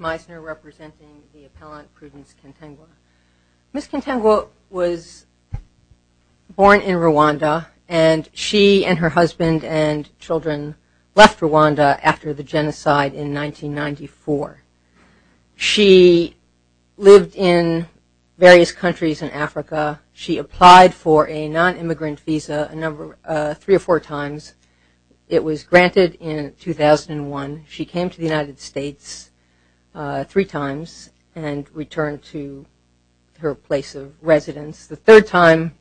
representing the appellant Prudence Kantengwa. Ms. Kantengwa was born in Rwanda and she and her husband and children left Rwanda after the genocide in 1994. She lived in various countries in Africa. She applied for a non-immigrant visa a number three or four times. It was granted in 2001. She came to the United States three times and returned to her place of residence. The third time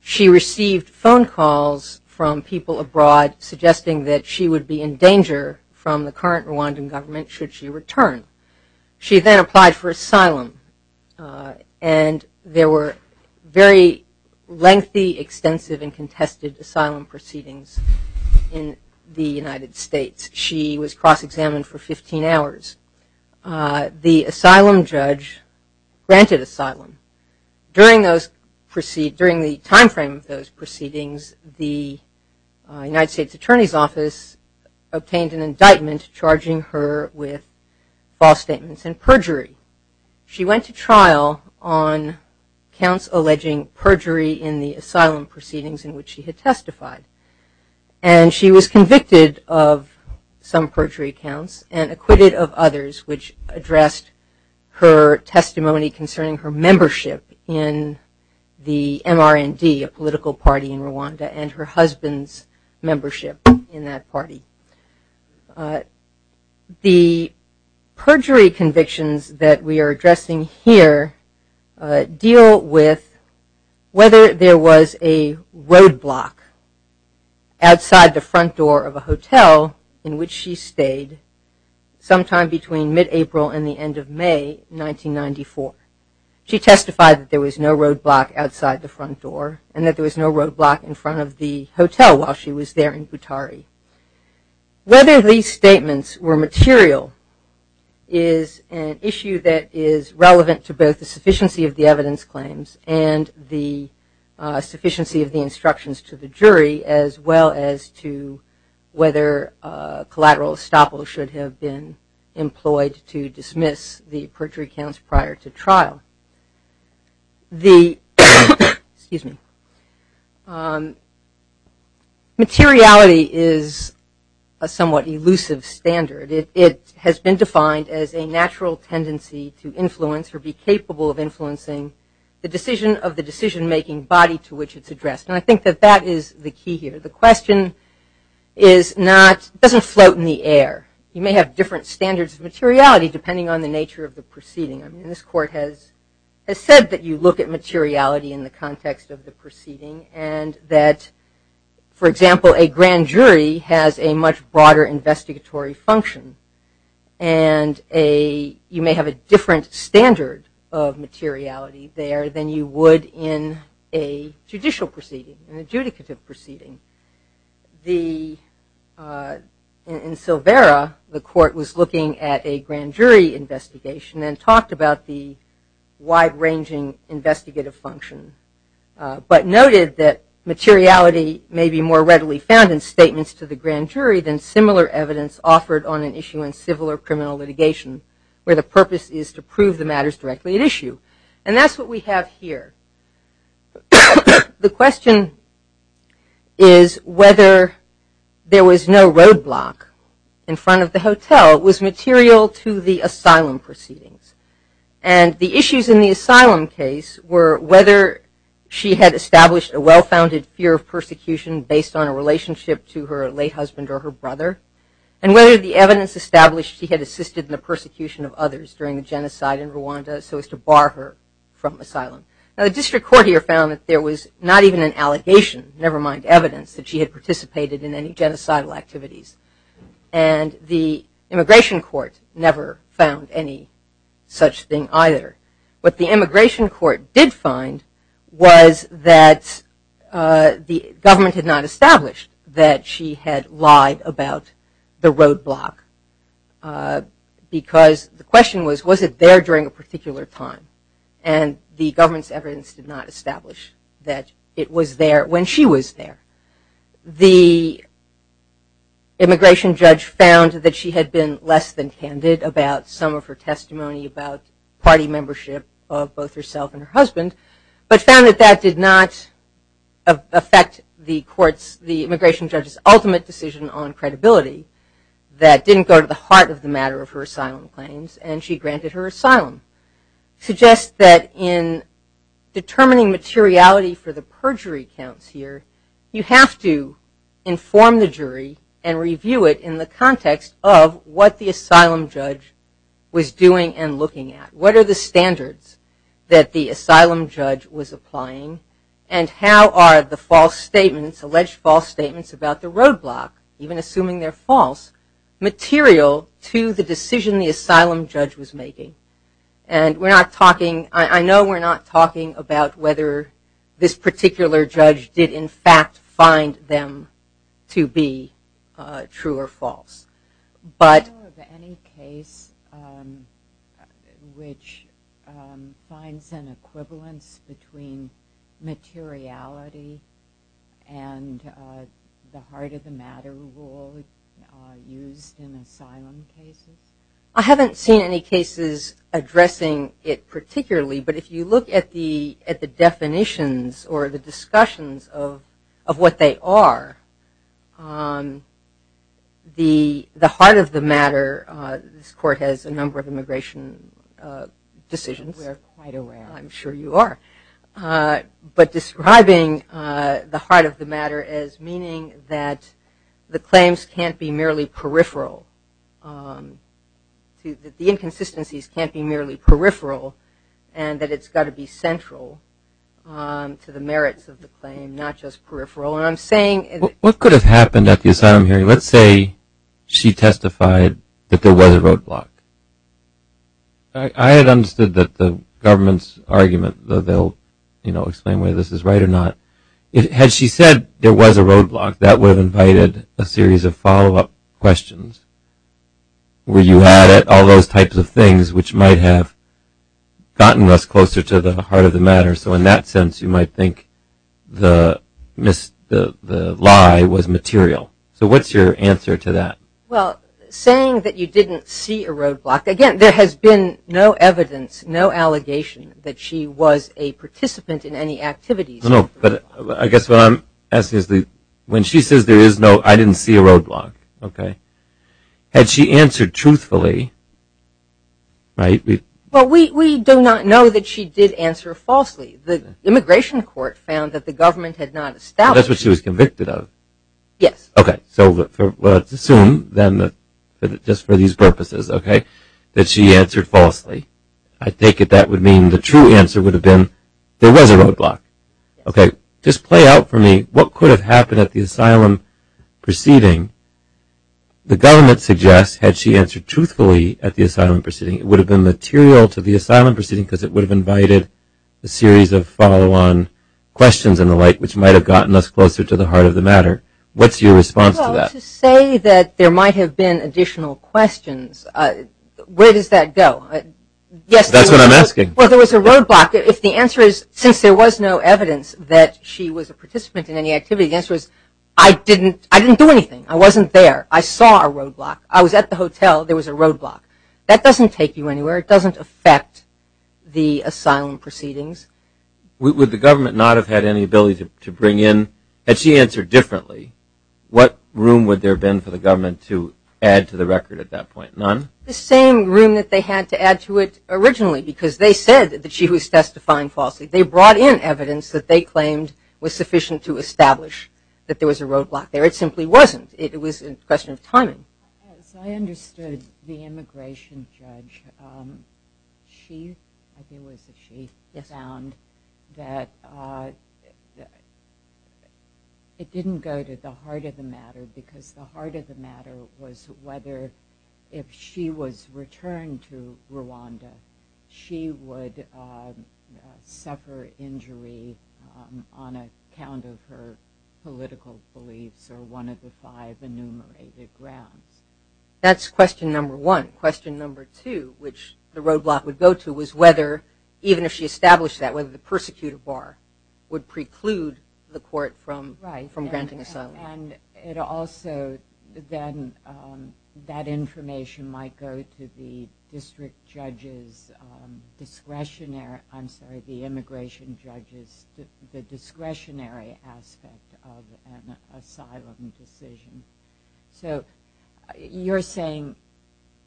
she received phone calls from people abroad suggesting that she would be in danger from the current Rwandan government should she return. She then applied for asylum and there were very lengthy, extensive, and contested asylum proceedings in the United States. She was cross-examined for 15 hours. The asylum judge granted asylum. During the time frame of those proceedings, the United States Attorney's Office obtained an indictment charging her with false statements and perjury. She went to trial on counts alleging perjury in the asylum proceedings in which she had testified. And she was convicted of some perjury counts and acquitted of others which addressed her testimony concerning her membership in the MRND, a political party in Rwanda, and her husband's membership in that here deal with whether there was a roadblock outside the front door of a hotel in which she stayed sometime between mid-April and the end of May 1994. She testified that there was no roadblock outside the front door and that there was no roadblock in front of the hotel while she was there in Butari. Whether these statements were material is an issue that is relevant to both the sufficiency of the evidence claims and the sufficiency of the instructions to the jury, as well as to whether collateral estoppel should have been employed to dismiss the perjury counts prior to trial. The, excuse me, materiality is a somewhat elusive standard. It has been defined as a natural tendency to influence or be capable of influencing the decision of the decision-making body to which it's addressed. And I think that that is the key here. The question is not, doesn't float in the air. You may have different standards of materiality depending on the nature of the proceeding. I mean this court has said that you look at materiality in the context of the proceeding and that, for example, a grand jury has a much broader investigatory function and you may have a different standard of materiality there than you would in a judicial proceeding, an adjudicative proceeding. The, in Silvera, the court was looking at a grand jury investigation and talked about the wide-ranging investigative function, but noted that materiality may be more readily found in statements to the grand jury than similar evidence offered on an issue in civil or criminal litigation, where the is whether there was no roadblock in front of the hotel was material to the asylum proceedings. And the issues in the asylum case were whether she had established a well-founded fear of persecution based on a relationship to her late husband or her brother, and whether the evidence established she had assisted in the persecution of others during the genocide in Rwanda so as to bar her from asylum. Now the district court here found that there was not even an allegation, never mind evidence, that she had participated in any genocidal activities and the immigration court never found any such thing either. What the immigration court did find was that the government had not established that she had lied about the roadblock because the question was was it there during a particular time and the government's evidence did not establish that it was there when she was there. The immigration judge found that she had been less than candid about some of her testimony about party membership of both herself and her husband, but found that that did not affect the courts, the immigration judge's ultimate decision on credibility that didn't go to the heart of the matter of her asylum claims and she granted her asylum. Suggests that in determining materiality for the perjury counts here, you have to inform the jury and review it in the context of what the asylum judge was doing and looking at. What are the standards that the asylum judge was applying and how are the false statements, alleged false statements, about the roadblock, even assuming they're false, material to the decision the asylum judge was making? And we're not talking, I know we're not talking about whether this particular judge did in fact find them to be true or false, but. Any case which finds an equivalence between materiality and the heart of the matter rule used in asylum cases? I haven't seen any cases addressing it particularly, but if you look at the at the definitions or the discussions of of what they are, the the heart of the matter, this court has a number of immigration decisions. We're quite aware. I'm sure you are. But describing the heart of the matter as meaning that the claims can't be merely peripheral, that the inconsistencies can't be merely peripheral, and that it's got to be central to the merits of the claim, not just peripheral. And I'm saying. What could have happened at the asylum hearing? Let's say she testified that there was a roadblock. I had understood that the government's argument, though they'll, you know, explain whether this is right or not. Had she said there was a roadblock, that would have invited a series of follow-up questions. Were you at it? All those types of things which might have gotten us closer to the heart of the matter. So in that sense you might think the lie was material. So what's your answer to that? Well, saying that you didn't see a roadblock. Again, there has been no evidence, no allegation that she was a participant in any activities. No, but I guess what I'm asking is that when she says there is no, I didn't see a roadblock. Okay. Had she answered truthfully, right? Well, we do not know that she did answer falsely. The immigration court found that the then just for these purposes, okay, that she answered falsely. I take it that would mean the true answer would have been there was a roadblock. Okay. Just play out for me. What could have happened at the asylum proceeding? The government suggests had she answered truthfully at the asylum proceeding, it would have been material to the asylum proceeding because it would have invited a series of follow-on questions and the like, which might have gotten us closer to the there might have been additional questions. Where does that go? That's what I'm asking. Well, there was a roadblock. If the answer is since there was no evidence that she was a participant in any activity, the answer is I didn't do anything. I wasn't there. I saw a roadblock. I was at the hotel. There was a roadblock. That doesn't take you anywhere. It doesn't affect the asylum proceedings. Would the government not have had any ability to bring in, had she answered differently, what room would there have been for the government to add to the record at that point? None? The same room that they had to add to it originally because they said that she was testifying falsely. They brought in evidence that they claimed was sufficient to establish that there was a roadblock there. It simply wasn't. It was a question of timing. I understood the immigration judge. She found that it didn't go to the heart of the matter because the heart of the matter was whether if she was returned to Rwanda, she would suffer injury on account of her political beliefs or one of the five enumerated grounds. That's question number one. Question number two, which the roadblock would go to, was whether even if she established that, whether the persecutor bar would preclude the court from granting asylum. Right. And it also, then, that information might go to the district judge's discretionary, I'm sorry, the immigration judge's, the discretionary aspect of an asylum decision. So, you're saying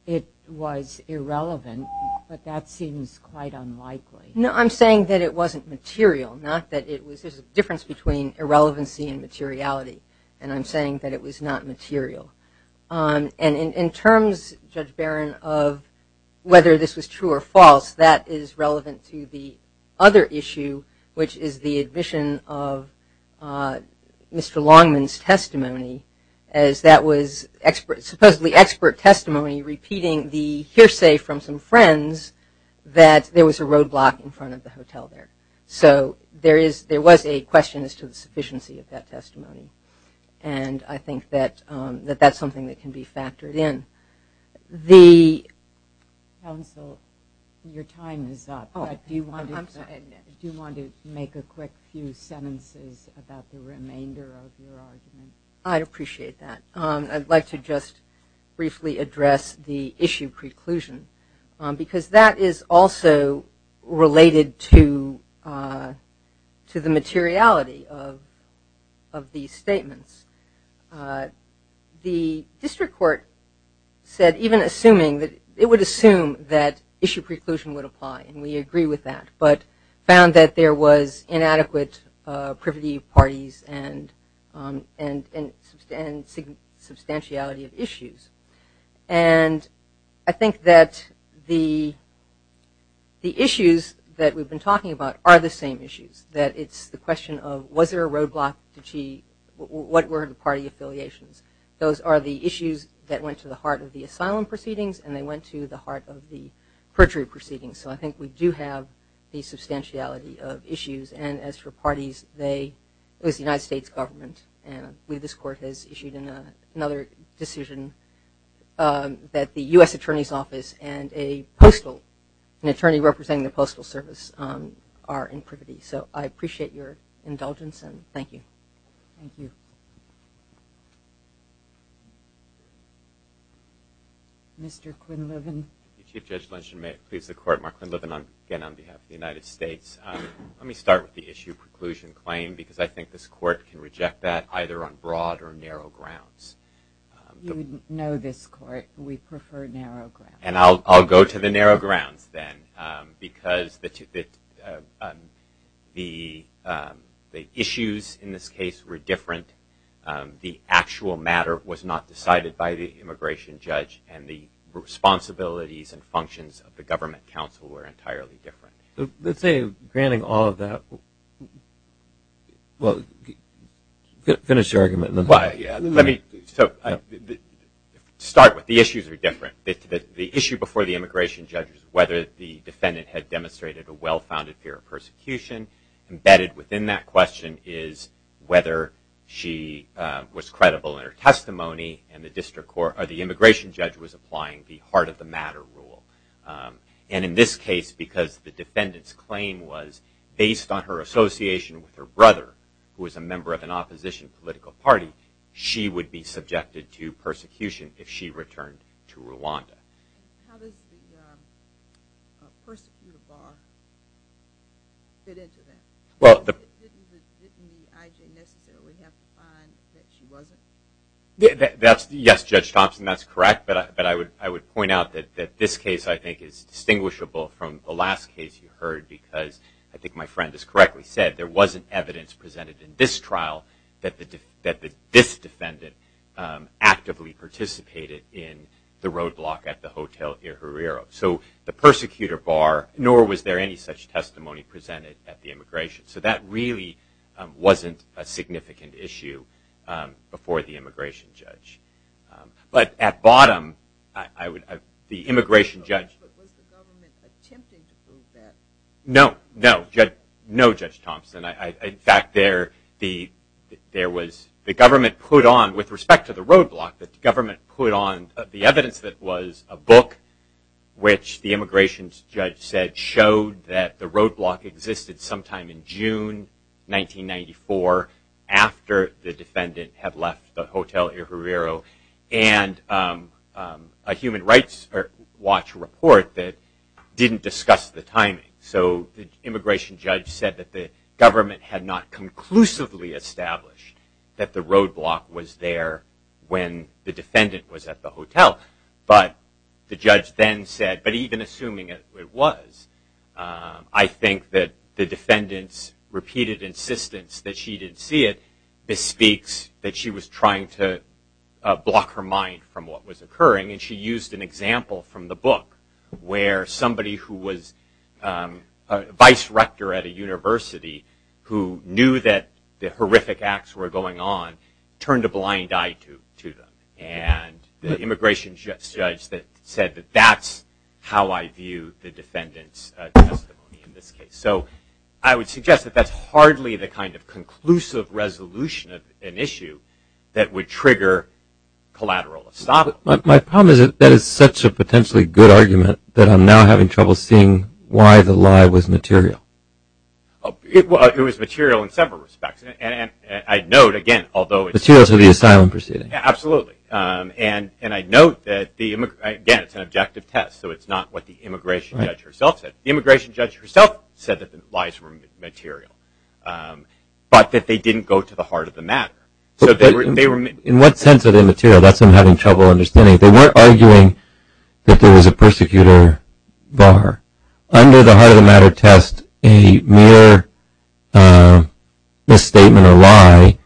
it was irrelevant, but that seems quite unlikely. No, I'm saying that it wasn't material, not that it was, there's a difference between irrelevancy and materiality, and I'm saying that it was not material. And in terms, Judge Barron, of whether this was true or false, that is relevant to the other issue, which is the admission of Mr. Longman's testimony, as that was expert, supposedly expert testimony, repeating the hearsay from some friends that there was a roadblock in front of the hotel there. So, there is, there was a question as to the sufficiency of that testimony, and I think that, that that's something that can be factored in. The, counsel, your time is up. Oh, I'm sorry. Do you want to make a quick few sentences about the remainder of your argument? I'd appreciate that. I'd like to just briefly address the issue preclusion, because that is also related to, to the materiality of, of these statements. The district court said, even assuming that, it would assume that issue preclusion would apply, and we agree with that, but found that there was inadequate privity of parties and, and, and substantiality of issues. And I think that the, the issues that we've been talking about are the same issues, that it's the question of, was there a roadblock? Did she, what were the party affiliations? Those are the issues that went to the heart of the asylum proceedings, and they went to the heart of the perjury proceedings. So, I think we do have the substantiality of issues, and as for parties, they, it was the United States government, and we, this court has issued another decision that the U.S. Attorney's Office and a postal, an attorney representing the Postal Service are in privity. So, I appreciate your indulgence, and thank you. Thank you. Mr. Quinlivan. Chief Judge Lindstrom, may it please the court. Mark Quinlivan, again on behalf of the United States. Let me start with the issue preclusion claim, because I think this court can reject that, either on broad or narrow grounds. You know this court, we prefer narrow grounds. And I'll, I'll go to the narrow grounds then, because the, the issues in this case were different. The actual matter was not decided by the immigration judge, and the responsibilities and functions of the government counsel were entirely different. Let's say, granting all of that, well, finish your argument. Let me, so, start with the issues are different. The issue before the immigration judge, whether the defendant had demonstrated a well-founded fear of persecution, embedded within that question is whether she was credible in her testimony, and the district court, or the immigration judge was applying the heart of the matter rule. And in this case, because the defendant's claim was based on her association with her brother, who was a member of an opposition political party, she would be subjected to persecution if she returned to Rwanda. Well, that's, yes, Judge Thompson, that's correct, but I would, I would point out that, that this case, I think, is distinguishable from the last case you heard, because I think my friend is correctly said, there wasn't evidence presented in this trial that the, that this defendant actively participated in the roadblock at the Hotel Ir Herrero. So, the persecutor bar, nor was there any such testimony presented at the immigration. So, that really wasn't a significant issue before the immigration judge. But, at bottom, I would, the immigration judge, but was the government attempting to prove that? No, no, Judge, no, Judge Thompson. In fact, there, the, there was, the government put on, with respect to the roadblock, that the government put on the evidence that was a book, which the immigration judge said showed that the roadblock existed sometime in June 1994, after the defendant had left the Hotel Ir Herrero, and a human rights watch report that didn't discuss the timing. So, the immigration judge said that the government had not conclusively established that the roadblock was there when the defendant was at the hotel. But, the judge then said, but even assuming it was, I think that the block her mind from what was occurring. And, she used an example from the book, where somebody who was a vice rector at a university, who knew that the horrific acts were going on, turned a blind eye to, to them. And, the immigration judge that said that, that's how I view the defendant's testimony in this case. So, I would suggest that that's hardly the kind of conclusive resolution of an issue that would trigger collateral. But, my problem is that that is such a potentially good argument, that I'm now having trouble seeing why the lie was material. Well, it was material in several respects. And, I'd note, again, although it's materials of the asylum proceeding. Yeah, absolutely. And, and I note that the, again, it's an objective test. So, it's not what the immigration judge herself said. The immigration judge herself said that the lies were material. But, that they didn't go to the heart of the matter. So, they were, they were. In what sense are they material? That's what I'm having trouble understanding. They weren't arguing that there was a persecutor bar. Under the heart of the matter test, a mere misstatement or lie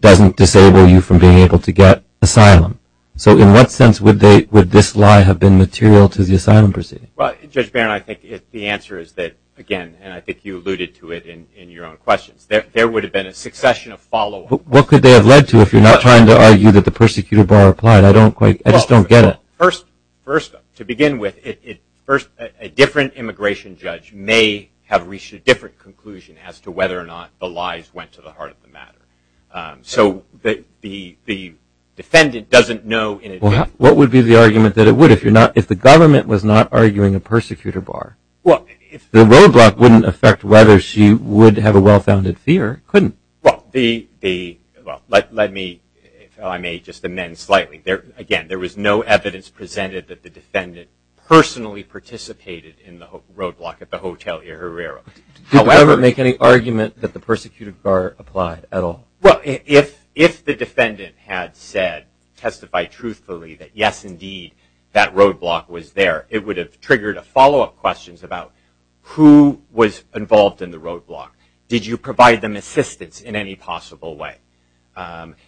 doesn't disable you from being able to get asylum. So, in what sense would they, would this lie have been material to the asylum proceeding? Well, Judge Barron, I think the answer is that, again, and I think you alluded to it in your own questions, that there would have been a succession of follow-ups. But, what could they have led to if you're not trying to argue that the persecutor bar applied? I don't quite, I just don't get it. Well, first, first, to begin with, it, it, first, a different immigration judge may have reached a different conclusion as to whether or not the lies went to the heart of the matter. So, the, the, the defendant doesn't What would be the argument that it would if you're not, if the government was not arguing a persecutor bar? Well, if. The roadblock wouldn't affect whether she would have a well-founded fear, couldn't it? Well, the, the, well, let, let me, if I may just amend slightly. There, again, there was no evidence presented that the defendant personally participated in the roadblock at the Hotel Hierrero. However. Did the government make any argument that the persecutor bar applied at all? Well, if, if the defendant had said, testified truthfully that, yes, indeed, that roadblock was there, it would have triggered a follow-up questions about who was involved in the roadblock. Did you provide them assistance in any possible way?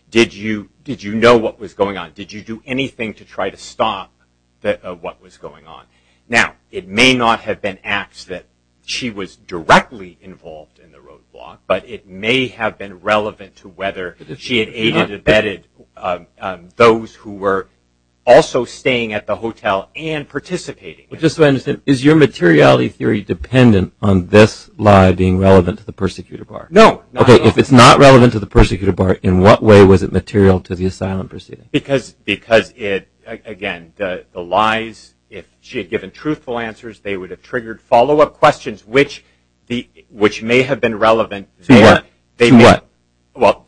Did you, did you know what was going on? Did you do anything to try to stop the, what was going on? Now, it may not have been acts that she was directly involved in the roadblock, but it may have been relevant to whether she had aided or abetted those who were also staying at the hotel and participating. Just so I understand, is your materiality theory dependent on this lie being relevant to the persecutor bar? No. Okay, if it's not relevant to the persecutor bar, in what way was it material to the asylum proceeding? Because, because it, again, the lies, if she had given truthful answers, they would have triggered follow-up questions, which may have been relevant. To what? Well,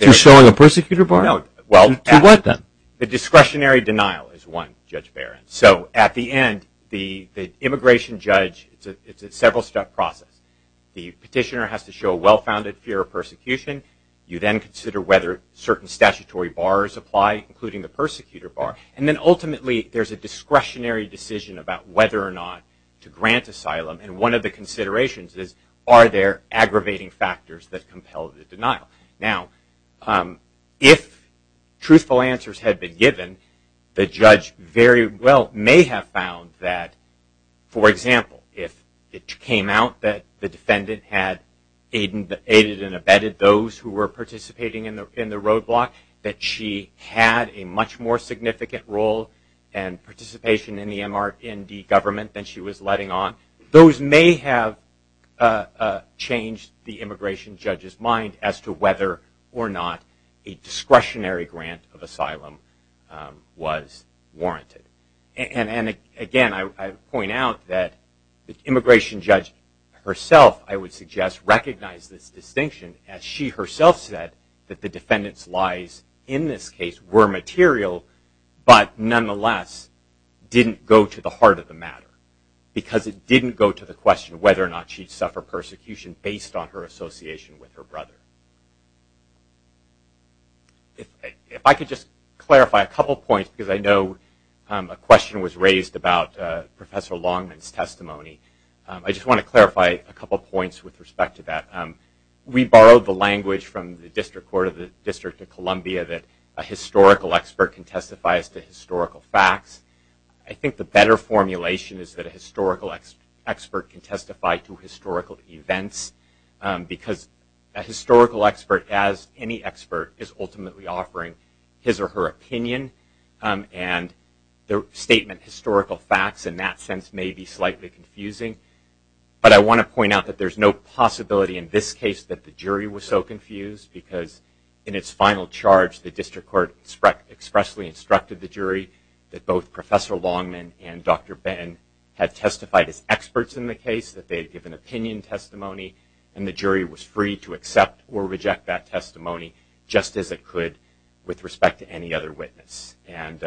To showing a persecutor bar? No. To what, then? The discretionary denial is one, Judge Barron. So, at the end, the immigration judge, it's a several-step process. The petitioner has to show a well-founded fear of persecution. You then consider whether certain statutory bars apply, including the persecutor bar. And then, ultimately, there's a discretionary decision about whether or not to grant asylum. And one of the considerations is, are there aggravating factors that compel the denial? Now, if truthful answers had been given, the judge very well may have found that, for example, if it came out that the defendant had aided and abetted those who were participating in the roadblock, that she had a much more significant role and participation in the MRND government than she was letting on. Those may have changed the immigration judge's mind as to whether or not a discretionary grant of asylum was warranted. And, again, I point out that the immigration judge herself, I would suggest, recognized this distinction, as she herself said that the defendant's lies in this case were material but, nonetheless, didn't go to the heart of the matter because it didn't go to the question of whether or not she'd suffer persecution based on her association with her brother. If I could just clarify a couple points because I know a question was raised about Professor Longman's testimony. I just want to clarify a couple points with respect to that. We borrowed the language from the District Court of the District of Columbia that a historical expert can testify as to historical facts. I think the better formulation is that a historical expert can testify to historical events because a historical expert, as any expert, is ultimately offering his or her opinion. And the statement, historical facts, in that sense may be slightly confusing. But I want to point out that there's no possibility in this case that the jury was so confused because in its final charge the District Court expressly instructed the jury that both Professor Longman and Dr. Benton had testified as experts in the case, that they had given opinion testimony, and the jury was free to accept or reject that testimony just as it could with respect to any other witness. And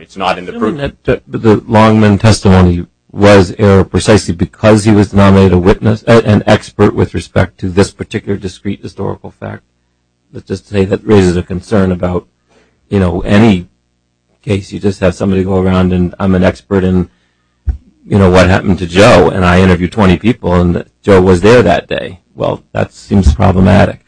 it's not in the proof. The Longman testimony was error precisely because he was nominated an expert with respect to this particular discrete historical fact. Let's just say that raises a concern about, you know, any case you just have somebody go around and I'm an expert in, you know, what happened to Joe and I interviewed 20 people and Joe was there that day. Well, that seems problematic.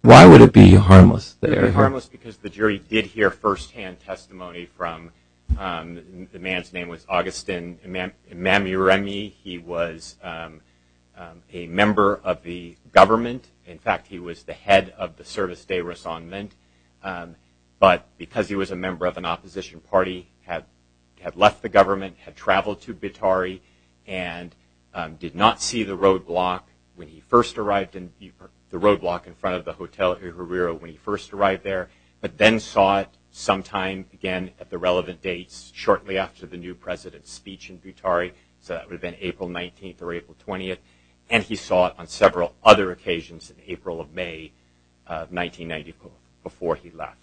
Why would it be harmless there? It would be harmless because the jury did hear firsthand testimony from, the man's name was Augustin Mamiremi. He was a member of the government. In fact, he was the head of the Service Day Resondement. But because he was a member of an opposition party, had left the government, had traveled to Buitari, and did not see the roadblock when he first arrived, the roadblock in front of the Hotel Herrera when he first arrived there, but then saw it sometime again at the relevant dates shortly after the new president's speech in Buitari. So that would have been April 19th or April 20th. And he saw it on several other occasions in April of May 1994 before he left.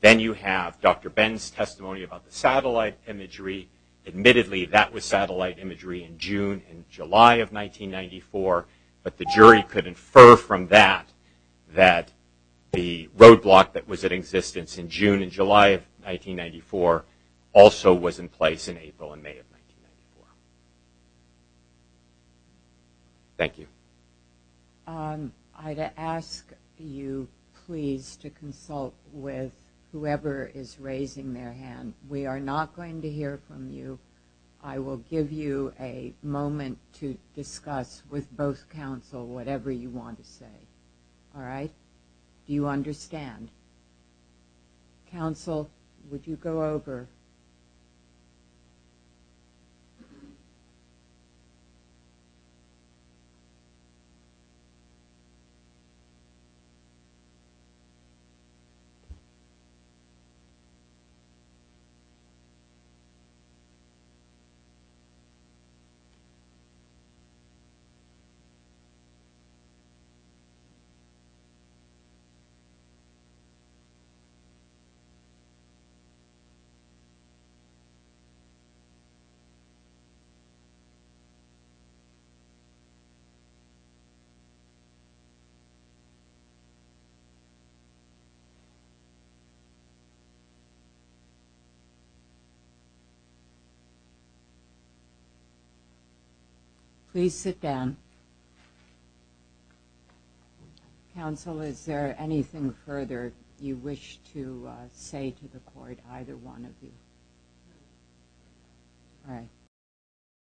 Then you have Dr. Ben's testimony about the satellite imagery. Admittedly, that was satellite imagery in June and July of 1994, but the jury could infer from that that the roadblock that was in existence in June and July of 1994 also was in place in April and May of 1994. Thank you. I'd ask you please to consult with whoever is raising their hand. We are not going to hear from you. I will give you a moment to discuss with both counsel whatever you want to say. All right? Do you understand? Counsel, would you go over? All right. Please sit down. Counsel, is there anything further you wish to say to the court, either one of you? All right.